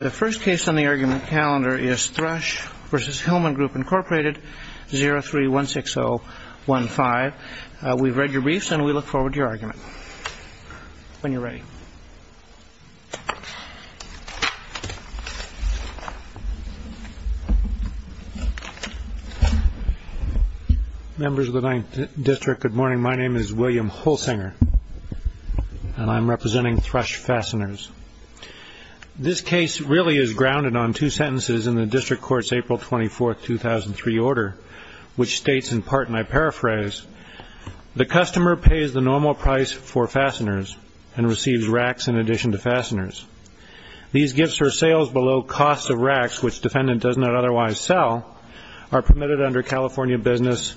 The first case on the argument calendar is Thrush v. Hillman Group, Inc. 03-16015. We've read your briefs, and we look forward to your argument when you're ready. Members of the 9th District, good morning. My name is William Hulsinger, and I'm representing Thrush Fasteners. This case really is grounded on two sentences in the District Court's April 24, 2003 order, which states in part, and I paraphrase, the customer pays the normal price for fasteners and receives racks in addition to fasteners. These gifts or sales below cost of racks, which defendant does not otherwise sell, are permitted under California Business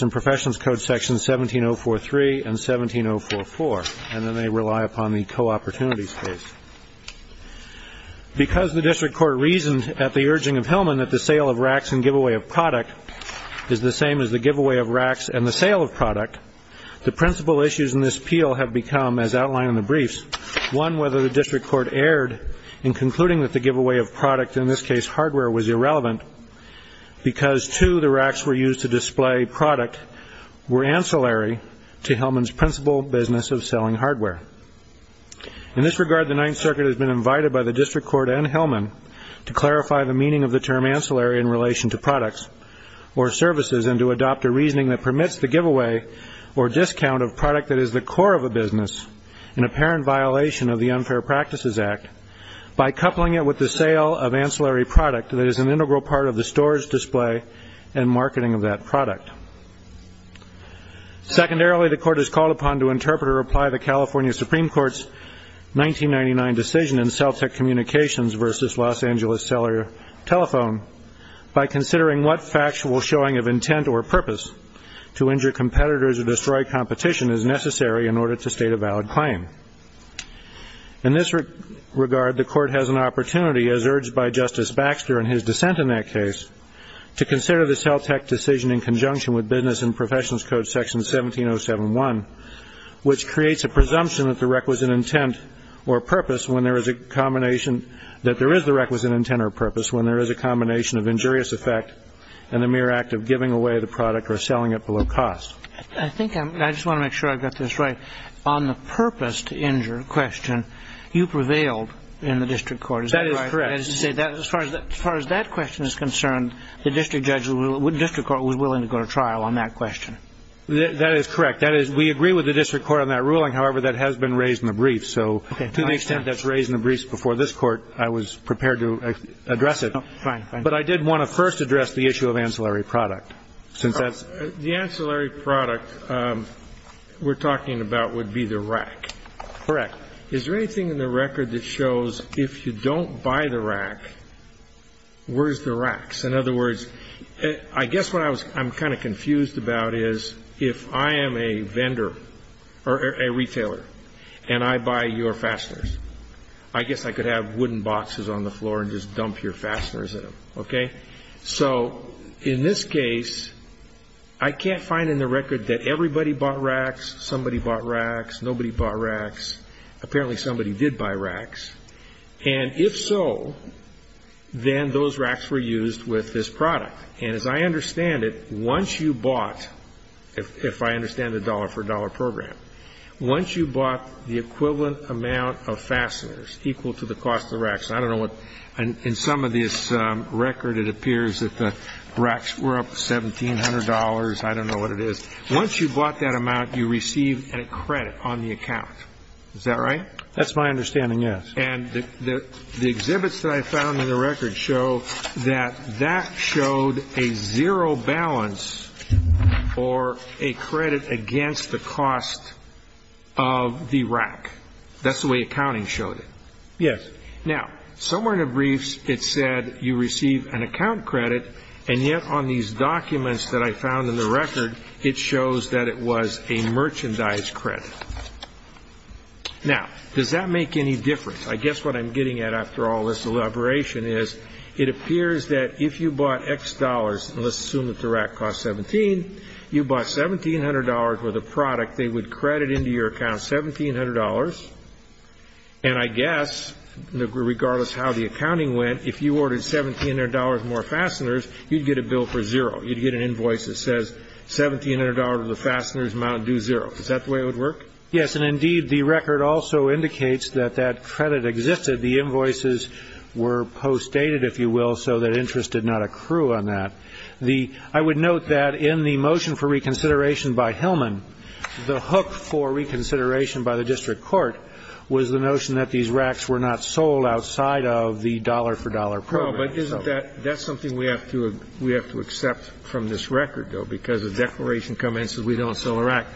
and Professionals Code Sections 17043 and 17044, and then they rely upon the co-opportunity space. Because the District Court reasoned at the urging of Hillman that the sale of racks and giveaway of product is the same as the giveaway of racks and the sale of product, the principal issues in this appeal have become, as outlined in the briefs, one, whether the District Court erred in concluding that the giveaway of product, in this case hardware, was irrelevant because, two, the racks were used to display product were ancillary to Hillman's principal business of selling hardware. In this regard, the Ninth Circuit has been invited by the District Court and Hillman to clarify the meaning of the term ancillary in relation to products or services and to adopt a reasoning that permits the giveaway or discount of product that is the core of a business in apparent violation of the Unfair Practices Act by coupling it with the sale of ancillary product that is an integral part of the storage, display, and marketing of that product. Secondarily, the Court is called upon to interpret or apply the California Supreme Court's 1999 decision in Celtic Communications v. Los Angeles Cellular Telephone by considering what factual showing of intent or purpose to injure competitors or destroy competition is necessary in order to state a valid claim. In this regard, the Court has an opportunity, as urged by Justice Baxter in his dissent in that case, to consider the Celtic decision in conjunction with Business and Professionals Code Section 17071, which creates a presumption that there is the requisite intent or purpose when there is a combination of injurious effect and the mere act of giving away the product or selling it below cost. I just want to make sure I've got this right. On the purpose to injure question, you prevailed in the District Court. That is correct. As far as that question is concerned, the District Court was willing to go to trial on that question. That is correct. We agree with the District Court on that ruling. However, that has been raised in the brief. So to the extent that's raised in the briefs before this Court, I was prepared to address it. But I did want to first address the issue of ancillary product. The ancillary product we're talking about would be the rack. Correct. Is there anything in the record that shows if you don't buy the rack, where's the racks? In other words, I guess what I'm kind of confused about is if I am a vendor or a retailer and I buy your fasteners, I guess I could have wooden boxes on the floor and just dump your fasteners in them, okay? So in this case, I can't find in the record that everybody bought racks, somebody bought racks, nobody bought racks. Apparently somebody did buy racks. And if so, then those racks were used with this product. And as I understand it, once you bought, if I understand the dollar-for-dollar program, once you bought the equivalent amount of fasteners equal to the cost of the racks, I don't know what in some of this record it appears that the racks were up to $1,700. I don't know what it is. Once you bought that amount, you received a credit on the account. Is that right? That's my understanding, yes. And the exhibits that I found in the record show that that showed a zero balance for a credit against the cost of the rack. That's the way accounting showed it. Yes. Now, somewhere in the briefs it said you receive an account credit, and yet on these documents that I found in the record it shows that it was a merchandise credit. Now, does that make any difference? I guess what I'm getting at after all this elaboration is it appears that if you bought X dollars, and let's assume that the rack cost $1,700, you bought $1,700 worth of product, they would credit into your account $1,700. And I guess, regardless of how the accounting went, if you ordered $1,700 more fasteners, you'd get a bill for zero. You'd get an invoice that says $1,700 worth of fasteners amount due zero. Is that the way it would work? Yes, and indeed the record also indicates that that credit existed. The invoices were postdated, if you will, so that interest did not accrue on that. I would note that in the motion for reconsideration by Hillman, the hook for reconsideration by the district court was the notion that these racks were not sold outside of the dollar-for-dollar program. No, but isn't that something we have to accept from this record, though, because the declaration commences, we don't sell a rack.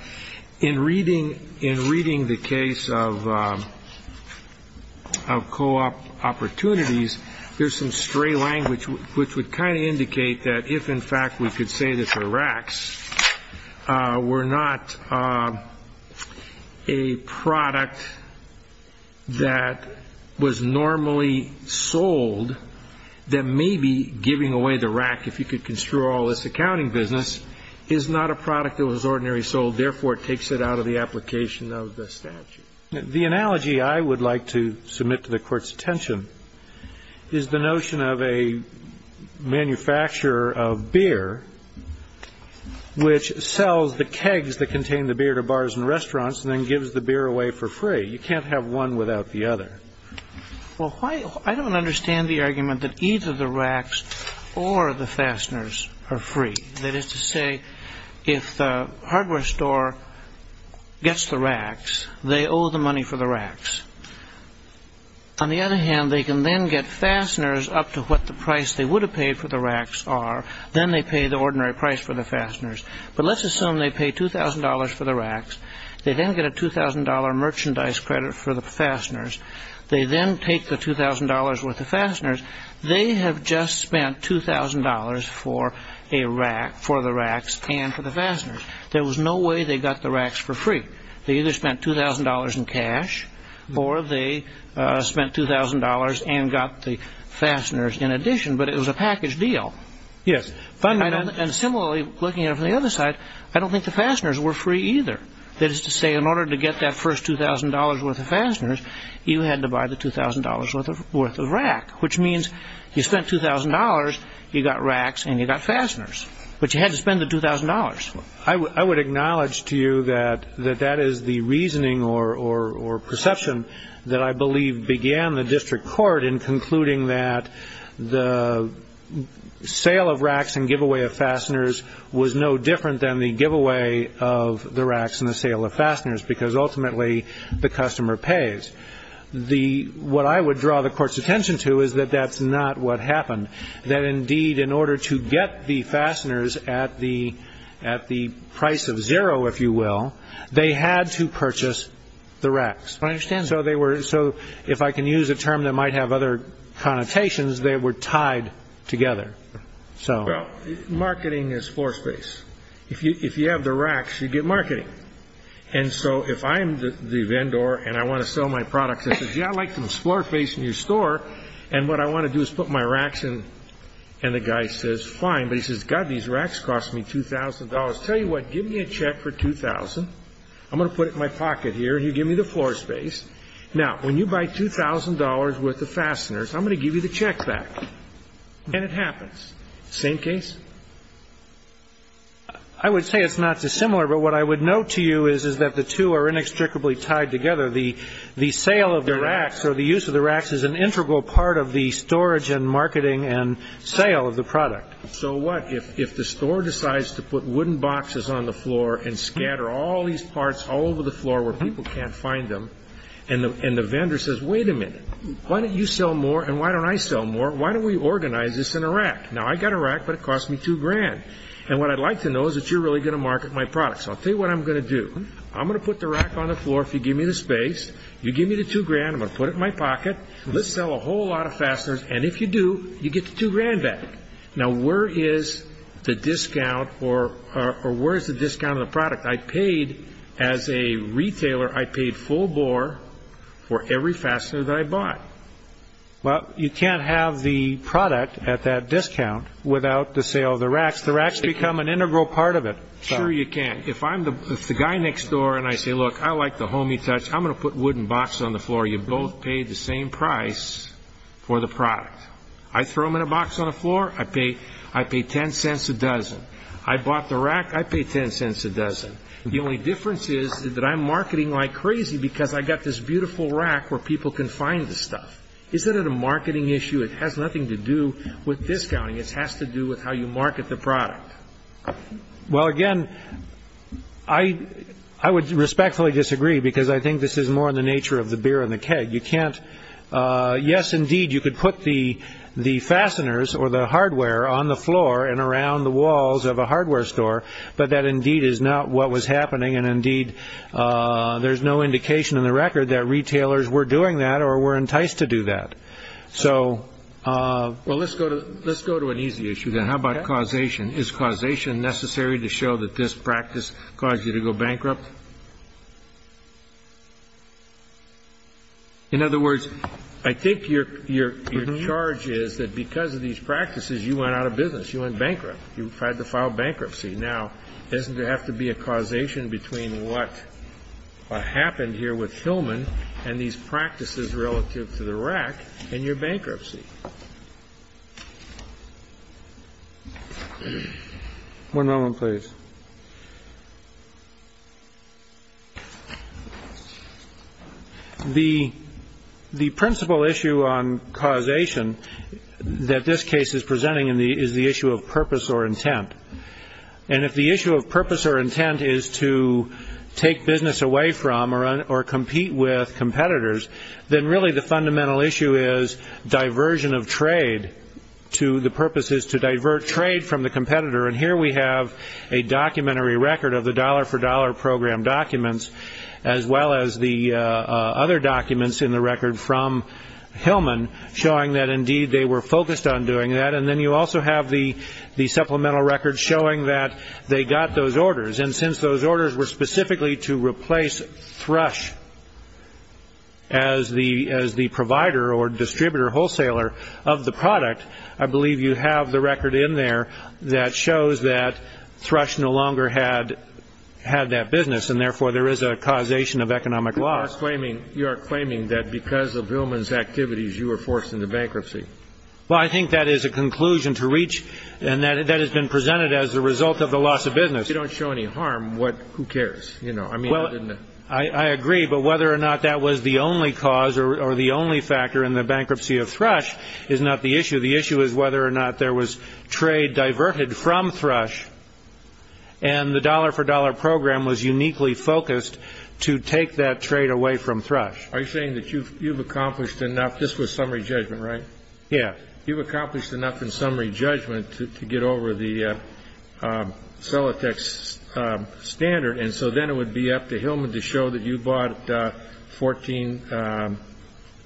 In reading the case of co-op opportunities, there's some stray language which would kind of indicate that if, in fact, we could say that the racks were not a product that was normally sold, then maybe giving away the rack, if you could construe all this accounting business, is not a product that was ordinarily sold. Therefore, it takes it out of the application of the statute. The analogy I would like to submit to the Court's attention is the notion of a manufacturer of beer which sells the kegs that contain the beer to bars and restaurants and then gives the beer away for free. You can't have one without the other. Well, I don't understand the argument that either the racks or the fasteners are free. That is to say, if the hardware store gets the racks, they owe the money for the racks. On the other hand, they can then get fasteners up to what the price they would have paid for the racks are. Then they pay the ordinary price for the fasteners. But let's assume they pay $2,000 for the racks. They then get a $2,000 merchandise credit for the fasteners. They then take the $2,000 worth of fasteners. They have just spent $2,000 for the racks and for the fasteners. There was no way they got the racks for free. They either spent $2,000 in cash or they spent $2,000 and got the fasteners in addition. But it was a package deal. Yes. And similarly, looking at it from the other side, I don't think the fasteners were free either. That is to say, in order to get that first $2,000 worth of fasteners, you had to buy the $2,000 worth of rack, which means you spent $2,000, you got racks, and you got fasteners. But you had to spend the $2,000. I would acknowledge to you that that is the reasoning or perception that I believe began the district court in concluding that the sale of racks and giveaway of fasteners was no different than the giveaway of the racks and the sale of fasteners because ultimately the customer pays. What I would draw the court's attention to is that that's not what happened, that indeed in order to get the fasteners at the price of zero, if you will, they had to purchase the racks. I understand. So if I can use a term that might have other connotations, they were tied together. Well, marketing is floor space. If you have the racks, you get marketing. And so if I'm the vendor and I want to sell my products and say, yeah, I'd like some floor space in your store, and what I want to do is put my racks in, and the guy says, fine, but he says, God, these racks cost me $2,000. Tell you what, give me a check for $2,000. I'm going to put it in my pocket here and you give me the floor space. Now, when you buy $2,000 worth of fasteners, I'm going to give you the check back. And it happens. Same case? I would say it's not dissimilar, but what I would note to you is that the two are inextricably tied together. The sale of the racks or the use of the racks is an integral part of the storage and marketing and sale of the product. So what if the store decides to put wooden boxes on the floor and scatter all these parts all over the floor where people can't find them, and the vendor says, wait a minute, why don't you sell more and why don't I sell more? Why don't we organize this in a rack? Now, I've got a rack, but it costs me $2,000. And what I'd like to know is that you're really going to market my products. I'll tell you what I'm going to do. I'm going to put the rack on the floor if you give me the space. You give me the $2,000. I'm going to put it in my pocket. Let's sell a whole lot of fasteners. And if you do, you get the $2,000 back. Now, where is the discount or where is the discount on the product? I paid, as a retailer, I paid full bore for every fastener that I bought. Well, you can't have the product at that discount without the sale of the racks. The racks become an integral part of it. Sure you can. If the guy next door and I say, look, I like the homey touch. I'm going to put wooden boxes on the floor. You both pay the same price for the product. I throw them in a box on the floor, I pay $0.10 a dozen. I bought the rack, I pay $0.10 a dozen. The only difference is that I'm marketing like crazy because I've got this beautiful rack where people can find the stuff. Is that a marketing issue? It has nothing to do with discounting. It has to do with how you market the product. Well, again, I would respectfully disagree because I think this is more in the nature of the beer and the keg. You can't. Yes, indeed. You could put the the fasteners or the hardware on the floor and around the walls of a hardware store. But that indeed is not what was happening. And indeed, there's no indication in the record that retailers were doing that or were enticed to do that. So, well, let's go to let's go to an easy issue. And how about causation? Is causation necessary to show that this practice caused you to go bankrupt? In other words, I think your charge is that because of these practices, you went out of business. You went bankrupt. You had to file bankruptcy. Now, doesn't there have to be a causation between what happened here with Hillman and these practices relative to the rack and your bankruptcy? One moment, please. The the principal issue on causation that this case is presenting in the is the issue of purpose or intent. And if the issue of purpose or intent is to take business away from or on or compete with competitors, then really the fundamental issue is diversion of trade to the purposes to divert trade from the competitor. And here we have a documentary record of the dollar for dollar program documents, as well as the other documents in the record from Hillman showing that indeed they were focused on doing that. And then you also have the the supplemental records showing that they got those orders. And since those orders were specifically to replace thrush. As the as the provider or distributor wholesaler of the product, I believe you have the record in there that shows that thrush no longer had had that business, and therefore there is a causation of economic loss claiming you are claiming that because of Hillman's activities, you were forced into bankruptcy. Well, I think that is a conclusion to reach and that that has been presented as a result of the loss of business. If you don't show any harm, what who cares? You know, I mean, well, I agree. But whether or not that was the only cause or the only factor in the bankruptcy of thrush is not the issue. The issue is whether or not there was trade diverted from thrush. And the dollar for dollar program was uniquely focused to take that trade away from thrush. Are you saying that you've you've accomplished enough? This was summary judgment, right? Yeah, you've accomplished enough in summary judgment to get over the sell attacks standard. And so then it would be up to Hillman to show that you bought 14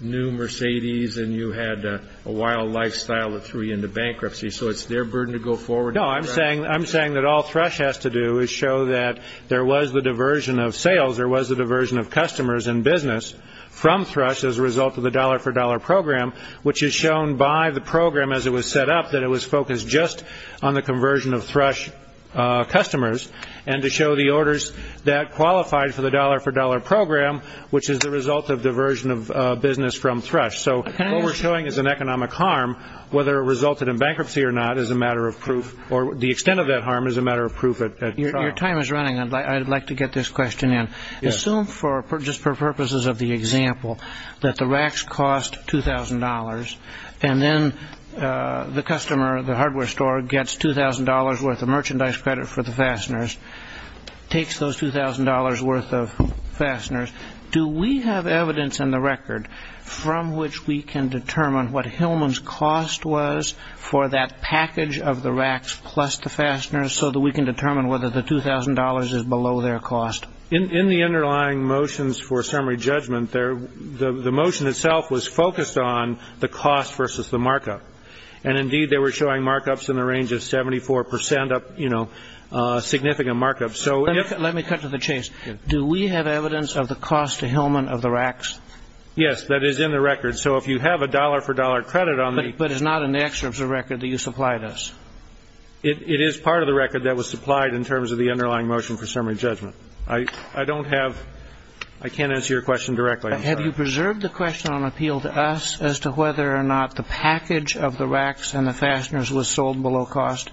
new Mercedes and you had a wild lifestyle that threw you into bankruptcy. So it's their burden to go forward. No, I'm saying I'm saying that all thrush has to do is show that there was the diversion of sales. There was a diversion of customers and business from thrush as a result of the dollar for dollar program, which is shown by the program as it was set up, that it was focused just on the conversion of thrush customers. And to show the orders that qualified for the dollar for dollar program, which is the result of diversion of business from thrush. So what we're showing is an economic harm, whether it resulted in bankruptcy or not, is a matter of proof or the extent of that harm is a matter of proof. Your time is running. I'd like to get this question in. Assume for just for purposes of the example that the racks cost $2,000 and then the customer, the hardware store, gets $2,000 worth of merchandise credit for the fasteners, takes those $2,000 worth of fasteners. Do we have evidence in the record from which we can determine what Hillman's cost was for that package of the racks plus the fasteners so that we can determine whether the $2,000 is below their cost? In the underlying motions for summary judgment, the motion itself was focused on the cost versus the markup. And indeed, they were showing markups in the range of 74 percent, you know, significant markups. Let me cut to the chase. Do we have evidence of the cost to Hillman of the racks? Yes, that is in the record. So if you have a dollar for dollar credit on the But it's not in the excerpt of the record that you supplied us. It is part of the record that was supplied in terms of the underlying motion for summary judgment. I don't have I can't answer your question directly. Have you preserved the question on appeal to us as to whether or not the package of the racks and the fasteners was sold below cost?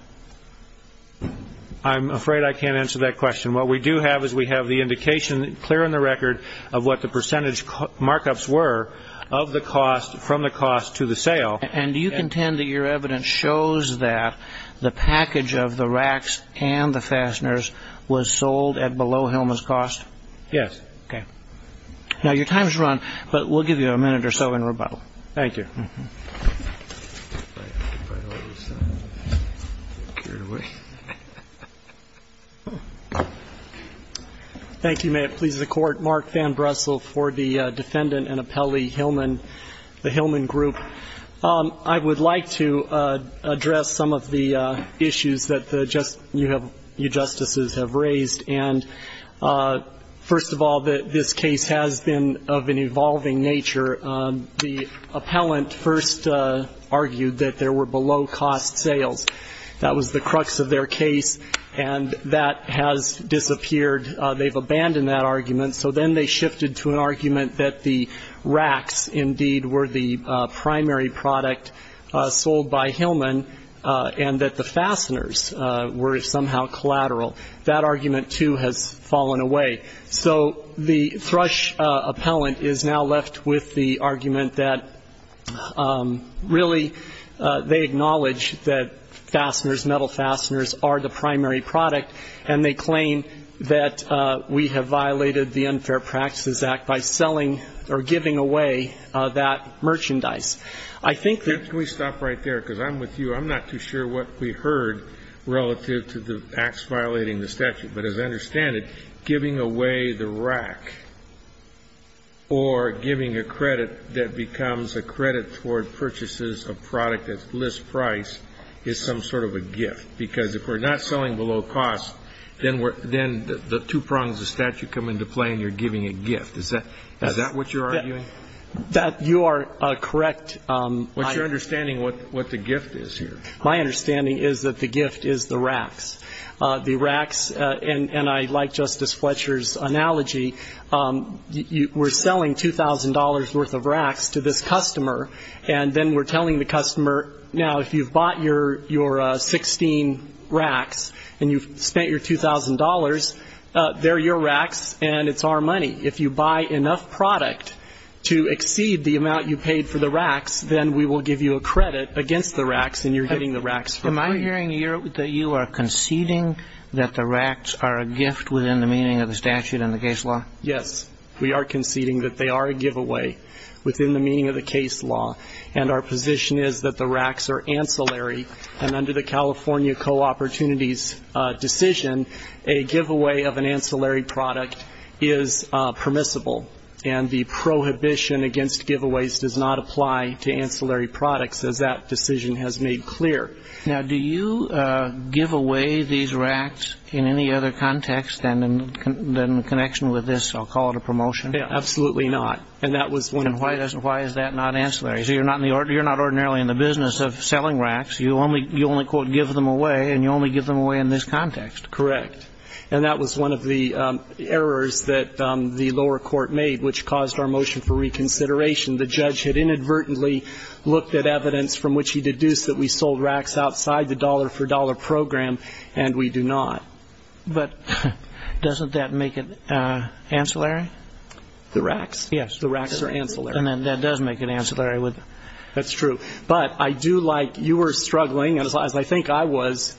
I'm afraid I can't answer that question. What we do have is we have the indication clear in the record of what the percentage markups were of the cost from the cost to the sale. And do you contend that your evidence shows that the package of the racks and the fasteners was sold at below Hillman's cost? Yes. Okay. Now, your time is run, but we'll give you a minute or so in rebuttal. Thank you. Thank you. May it please the Court. Mark Van Bressel for the defendant and appellee Hillman, the Hillman group. I would like to address some of the issues that you justices have raised. And first of all, this case has been of an evolving nature. The appellant first argued that there were below cost sales. That was the crux of their case. And that has disappeared. They've abandoned that argument. So then they shifted to an argument that the racks indeed were the primary product sold by Hillman and that the fasteners were somehow collateral. That argument, too, has fallen away. So the Thrush appellant is now left with the argument that really they acknowledge that fasteners, metal fasteners, are the primary product. And they claim that we have violated the Unfair Practices Act by selling or giving away that merchandise. Can we stop right there? Because I'm with you. I'm not too sure what we heard relative to the acts violating the statute. But as I understand it, giving away the rack or giving a credit that becomes a credit toward purchases of product at list price is some sort of a gift. Because if we're not selling below cost, then the two prongs of statute come into play and you're giving a gift. Is that what you're arguing? You are correct. What's your understanding of what the gift is here? My understanding is that the gift is the racks. The racks, and I like Justice Fletcher's analogy, we're selling $2,000 worth of racks to this customer, and then we're telling the customer, now, if you've bought your 16 racks and you've spent your $2,000, they're your racks and it's our money. If you buy enough product to exceed the amount you paid for the racks, then we will give you a credit against the racks and you're getting the racks for free. Am I hearing here that you are conceding that the racks are a gift within the meaning of the statute and the case law? Yes. We are conceding that they are a giveaway within the meaning of the case law, and our position is that the racks are ancillary, and under the California Co-Opportunities decision, a giveaway of an ancillary product is permissible, and the prohibition against giveaways does not apply to ancillary products, as that decision has made clear. Now, do you give away these racks in any other context than in connection with this, I'll call it a promotion? Absolutely not. And why is that not ancillary? So you're not ordinarily in the business of selling racks. You only, quote, give them away, and you only give them away in this context. Correct. And that was one of the errors that the lower court made, which caused our motion for reconsideration. The judge had inadvertently looked at evidence from which he deduced that we sold racks outside the dollar-for-dollar program, and we do not. But doesn't that make it ancillary? The racks? Yes. The racks are ancillary. And that does make it ancillary. That's true. But I do like you were struggling, as I think I was,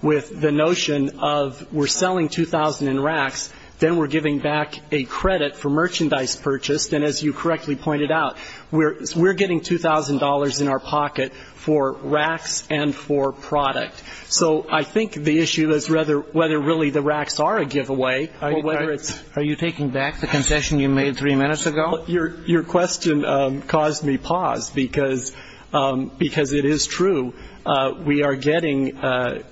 with the notion of we're selling 2,000 in racks, then we're giving back a credit for merchandise purchased. And as you correctly pointed out, we're getting $2,000 in our pocket for racks and for product. So I think the issue is whether really the racks are a giveaway or whether it's ---- Are you taking back the concession you made three minutes ago? Your question caused me pause, because it is true. We are getting a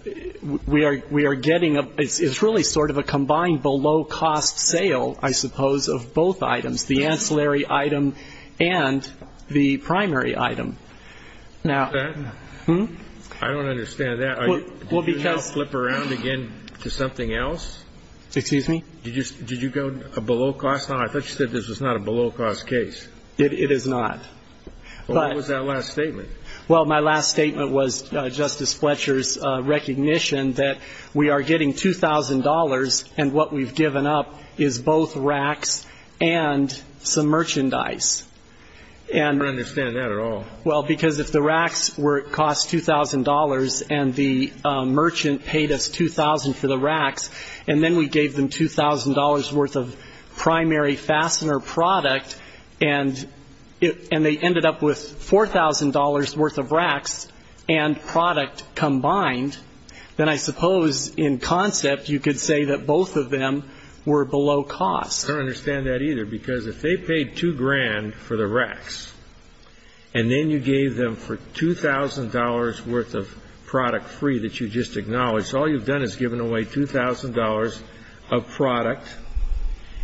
---- it's really sort of a combined below-cost sale, I suppose, of both items, the ancillary item and the primary item. Now ---- Is that ---- Hmm? I don't understand that. Well, because ---- Did you now flip around again to something else? Excuse me? Did you go below-cost? I thought you said this was not a below-cost case. It is not. But ---- What was that last statement? Well, my last statement was Justice Fletcher's recognition that we are getting $2,000, and what we've given up is both racks and some merchandise. I don't understand that at all. Well, because if the racks cost $2,000 and the merchant paid us $2,000 for the racks, and then we gave them $2,000 worth of primary fastener product, and they ended up with $4,000 worth of racks and product combined, then I suppose in concept you could say that both of them were below-cost. I don't understand that either, because if they paid $2,000 for the racks, and then you gave them for $2,000 worth of product free that you just acknowledged, all you've done is given away $2,000 of product,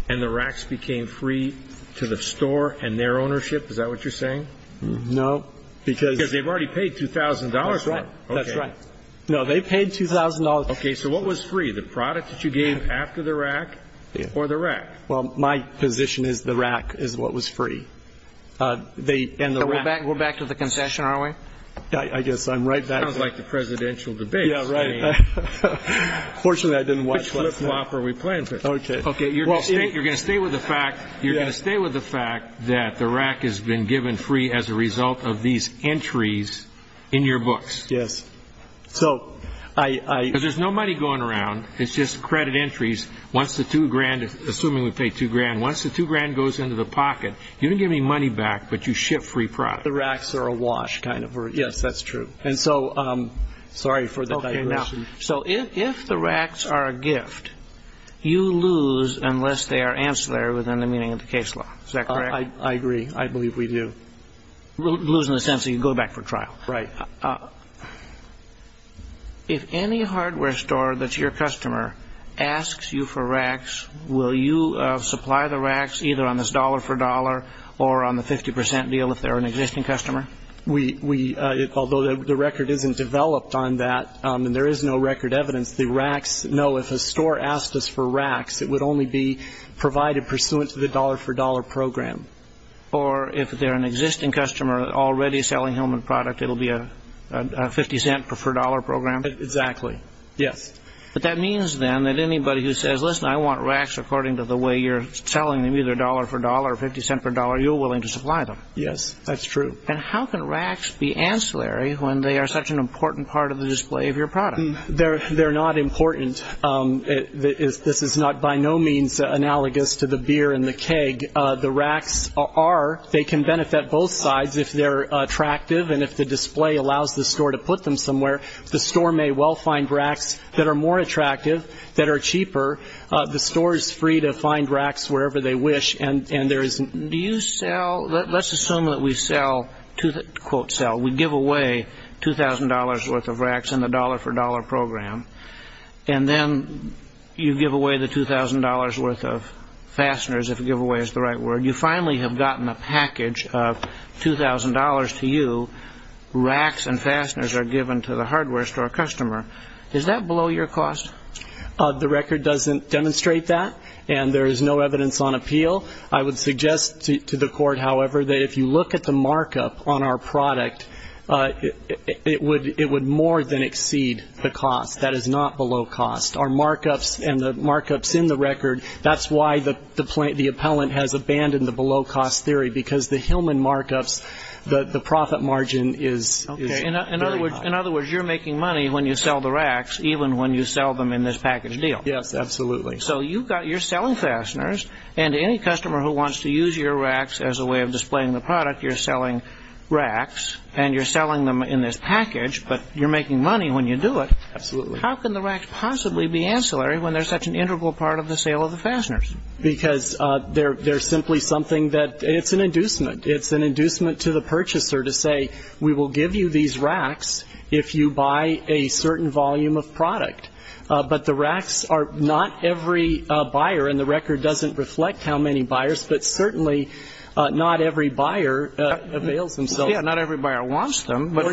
and the racks became free to the store and their ownership. Is that what you're saying? No. Because they've already paid $2,000. That's right. Okay. No, they paid $2,000. Okay. So what was free, the product that you gave after the rack or the rack? Well, my position is the rack is what was free. And the rack ---- We're back to the concession, aren't we? I guess I'm right back to ---- Fortunately, I didn't watch what's next. Which flip-flop are we playing for? Okay. Okay, you're going to stay with the fact that the rack has been given free as a result of these entries in your books. Yes. Because there's no money going around, it's just credit entries. Once the $2,000, assuming we pay $2,000, once the $2,000 goes into the pocket, you don't get any money back, but you ship free product. The racks are a wash, kind of. Yes, that's true. And so, sorry for the digression. Okay, now, so if the racks are a gift, you lose unless they are ancillary within the meaning of the case law. Is that correct? I agree. I believe we do. Lose in the sense that you go back for trial. Right. If any hardware store that's your customer asks you for racks, will you supply the racks either on this dollar-for-dollar or on the 50% deal if they're an existing customer? We, although the record isn't developed on that, and there is no record evidence, the racks, no, if a store asked us for racks, it would only be provided pursuant to the dollar-for-dollar program. Or if they're an existing customer already selling Hillman product, it will be a 50-cent-for-dollar program? Exactly. Yes. But that means, then, that anybody who says, listen, I want racks according to the way you're selling them, either dollar-for-dollar or 50-cent-for-dollar, you're willing to supply them. Yes, that's true. And how can racks be ancillary when they are such an important part of the display of your product? They're not important. This is by no means analogous to the beer and the keg. The racks are. They can benefit both sides if they're attractive, and if the display allows the store to put them somewhere, the store may well find racks that are more attractive, that are cheaper. The store is free to find racks wherever they wish. Let's assume that we sell, quote, sell. We give away $2,000 worth of racks in the dollar-for-dollar program, and then you give away the $2,000 worth of fasteners, if giveaway is the right word. You finally have gotten a package of $2,000 to you. Racks and fasteners are given to the hardware store customer. Is that below your cost? The record doesn't demonstrate that, and there is no evidence on appeal. I would suggest to the court, however, that if you look at the markup on our product, it would more than exceed the cost. That is not below cost. Our markups and the markups in the record, that's why the appellant has abandoned the below-cost theory, because the Hillman markups, the profit margin is very high. In other words, you're making money when you sell the racks, even when you sell them in this package deal. Yes, absolutely. So you're selling fasteners, and any customer who wants to use your racks as a way of displaying the product, you're selling racks, and you're selling them in this package, but you're making money when you do it. Absolutely. How can the racks possibly be ancillary when they're such an integral part of the sale of the fasteners? Because they're simply something that, it's an inducement. It's an inducement to the purchaser to say, we will give you these racks if you buy a certain volume of product. But the racks are not every buyer, and the record doesn't reflect how many buyers, but certainly not every buyer avails themselves. Yeah, not every buyer wants them. But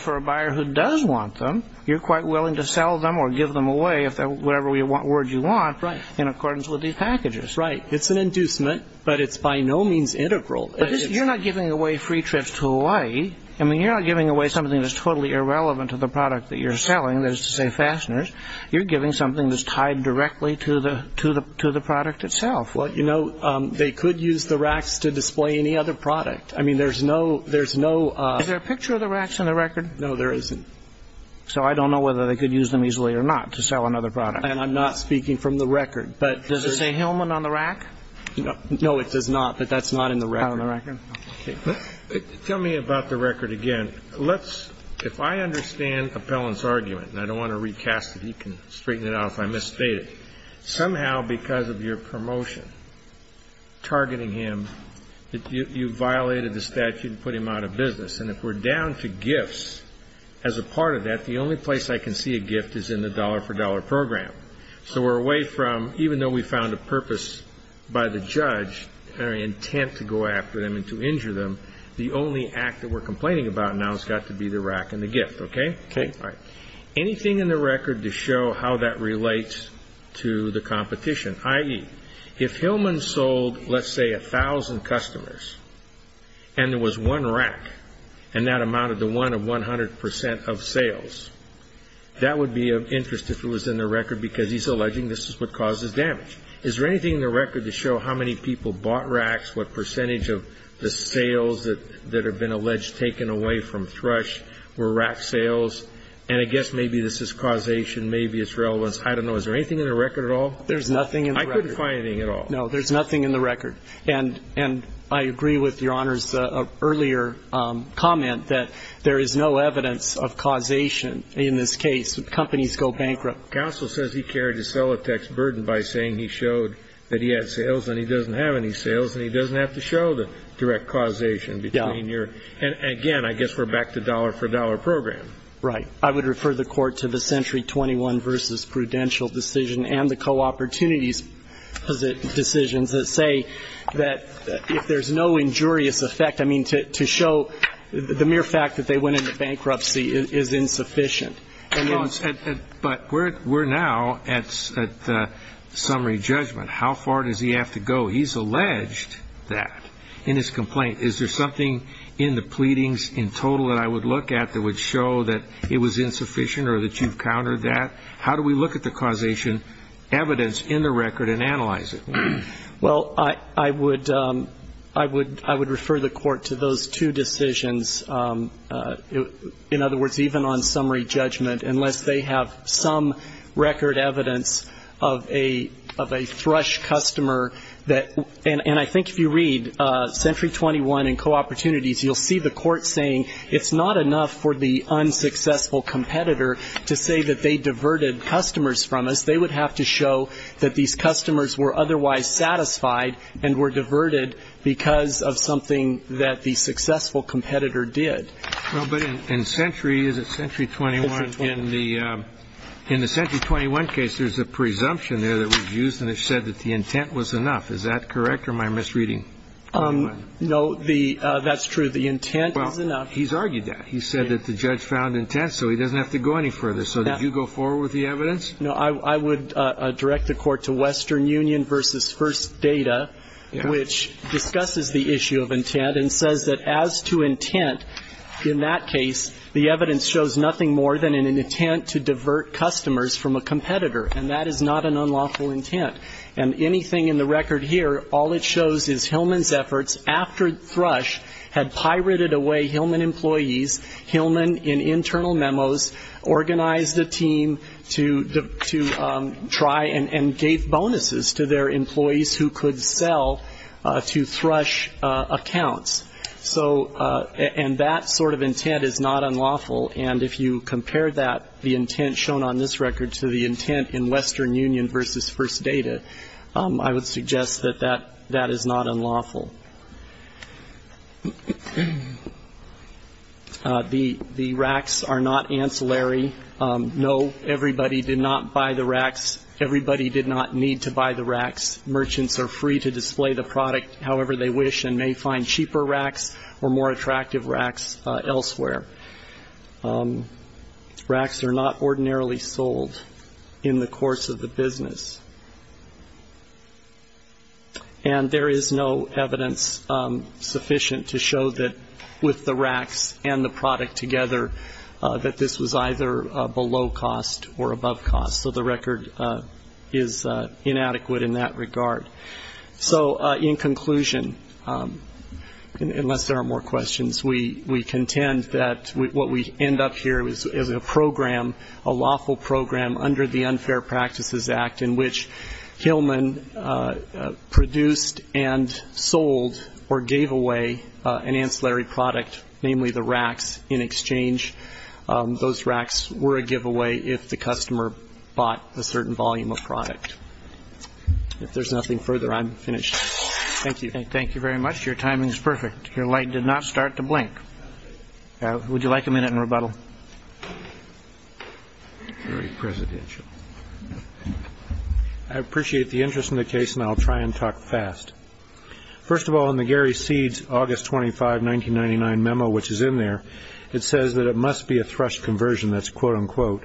for a buyer who does want them, you're quite willing to sell them or give them away, whatever word you want, in accordance with these packages. Right. It's an inducement, but it's by no means integral. But you're not giving away free trips to Hawaii. I mean, you're not giving away something that's totally irrelevant to the product that you're selling, that is to say, fasteners. You're giving something that's tied directly to the product itself. Well, you know, they could use the racks to display any other product. I mean, there's no... Is there a picture of the racks in the record? No, there isn't. So I don't know whether they could use them easily or not to sell another product. Does it say Hillman on the rack? No, it does not. But that's not in the record. Not on the record. Okay. Tell me about the record again. Let's, if I understand Appellant's argument, and I don't want to recast it. He can straighten it out if I misstate it. Somehow, because of your promotion targeting him, you violated the statute and put him out of business. And if we're down to gifts, as a part of that, the only place I can see a gift is in the dollar-for-dollar program. So we're away from, even though we found a purpose by the judge, an intent to go after them and to injure them, the only act that we're complaining about now has got to be the rack and the gift, okay? Okay. All right. Anything in the record to show how that relates to the competition? I.e., if Hillman sold, let's say, a thousand customers, and there was one rack, and that amounted to one of 100 percent of sales, that would be of interest if it was in the record, because he's alleging this is what causes damage. Is there anything in the record to show how many people bought racks, what percentage of the sales that have been alleged taken away from Thrush were rack sales? And I guess maybe this is causation, maybe it's relevance. I don't know. Is there anything in the record at all? There's nothing in the record. I couldn't find anything at all. No, there's nothing in the record. And I agree with Your Honor's earlier comment that there is no evidence of causation in this case. Companies go bankrupt. Counsel says he carried his Solitech's burden by saying he showed that he had sales, and he doesn't have any sales, and he doesn't have to show the direct causation between your ñ and, again, I guess we're back to dollar-for-dollar program. Right. I would refer the Court to the Century 21 v. Prudential decision and the Co-Opportunities decisions that say that if there's no injurious effect, I mean, to show the mere fact that they went into bankruptcy is insufficient. But we're now at summary judgment. How far does he have to go? He's alleged that in his complaint. Is there something in the pleadings in total that I would look at that would show that it was insufficient or that you've countered that? How do we look at the causation evidence in the record and analyze it? Well, I would refer the Court to those two decisions. In other words, even on summary judgment, unless they have some record evidence of a thrush customer that ñ and I think if you read Century 21 and Co-Opportunities, you'll see the Court saying it's not enough for the unsuccessful competitor to say that they diverted customers from us. They would have to show that these customers were otherwise satisfied and were diverted because of something that the successful competitor did. Well, but in Century ñ is it Century 21? Century 21. In the Century 21 case, there's a presumption there that was used and it said that the intent was enough. Is that correct or am I misreading? No. That's true. The intent is enough. Well, he's argued that. He said that the judge found intent so he doesn't have to go any further. So did you go forward with the evidence? No. I would direct the Court to Western Union v. First Data, which discusses the issue of intent and says that as to intent, in that case, the evidence shows nothing more than an intent to divert customers from a competitor, and that is not an unlawful intent. And anything in the record here, all it shows is Hillman's efforts, after Thrush had pirated away Hillman employees, Hillman, in internal memos, organized a team to try and gave bonuses to their employees who could sell to Thrush accounts. And that sort of intent is not unlawful. And if you compare that, the intent shown on this record, to the intent in Western Union v. First Data, I would suggest that that is not unlawful. The racks are not ancillary. No, everybody did not buy the racks. Everybody did not need to buy the racks. Merchants are free to display the product however they wish and may find cheaper racks or more attractive racks elsewhere. Racks are not ordinarily sold in the course of the business. And there is no evidence sufficient to show that with the racks and the product together that this was either below cost or above cost. So the record is inadequate in that regard. So in conclusion, unless there are more questions, we contend that what we end up here is a program, a lawful program under the Unfair Practices Act in which Hillman produced and sold or gave away an ancillary product, namely the racks, in exchange. Those racks were a giveaway if the customer bought a certain volume of product. If there's nothing further, I'm finished. Thank you. Thank you very much. Your timing is perfect. Your light did not start to blink. Would you like a minute in rebuttal? Very presidential. I appreciate the interest in the case, and I'll try and talk fast. First of all, in the Gary Seed's August 25, 1999 memo, which is in there, it says that it must be a thrush conversion. That's quote, unquote.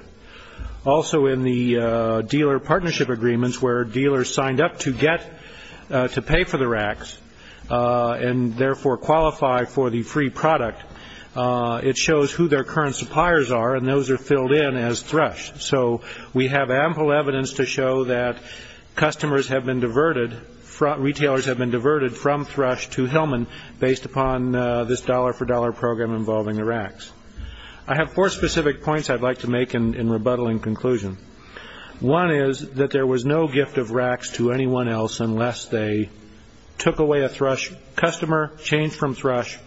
Also in the dealer partnership agreements where dealers signed up to get to pay for the racks and therefore qualify for the free product, it shows who their current suppliers are, and those are filled in as thrush. So we have ample evidence to show that customers have been diverted, retailers have been diverted from thrush to Hillman based upon this dollar-for-dollar program involving the racks. I have four specific points I'd like to make in rebuttal and conclusion. One is that there was no gift of racks to anyone else unless they took away a thrush customer, changed from thrush,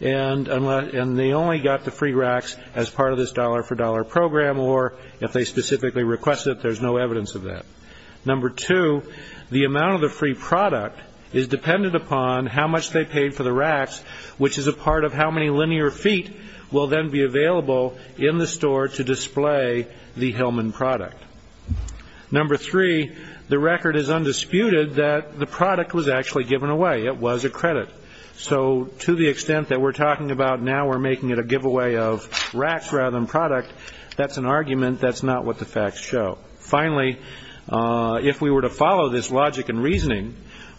and they only got the free racks as part of this dollar-for-dollar program or if they specifically requested it, there's no evidence of that. Number two, the amount of the free product is dependent upon how much they paid for the racks, which is a part of how many linear feet will then be available in the store to display the Hillman product. Number three, the record is undisputed that the product was actually given away. It was a credit. So to the extent that we're talking about now we're making it a giveaway of racks rather than product, that's an argument that's not what the facts show.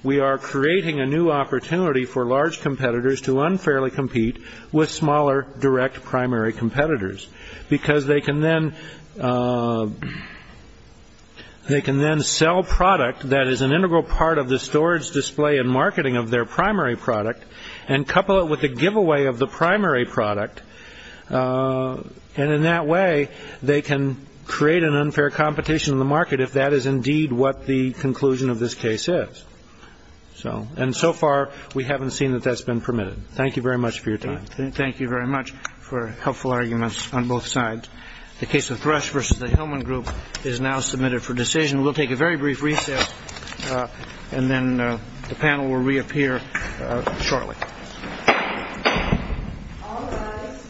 We are creating a new opportunity for large competitors to unfairly compete with smaller direct primary competitors because they can then sell product that is an integral part of the storage, display, and marketing of their primary product and couple it with a giveaway of the primary product. And in that way they can create an unfair competition in the market if that is indeed what the conclusion of this case is. And so far we haven't seen that that's been permitted. Thank you very much for your time. Thank you very much for helpful arguments on both sides. The case of thrush versus the Hillman group is now submitted for decision. We'll take a very brief recess and then the panel will reappear shortly. All rise.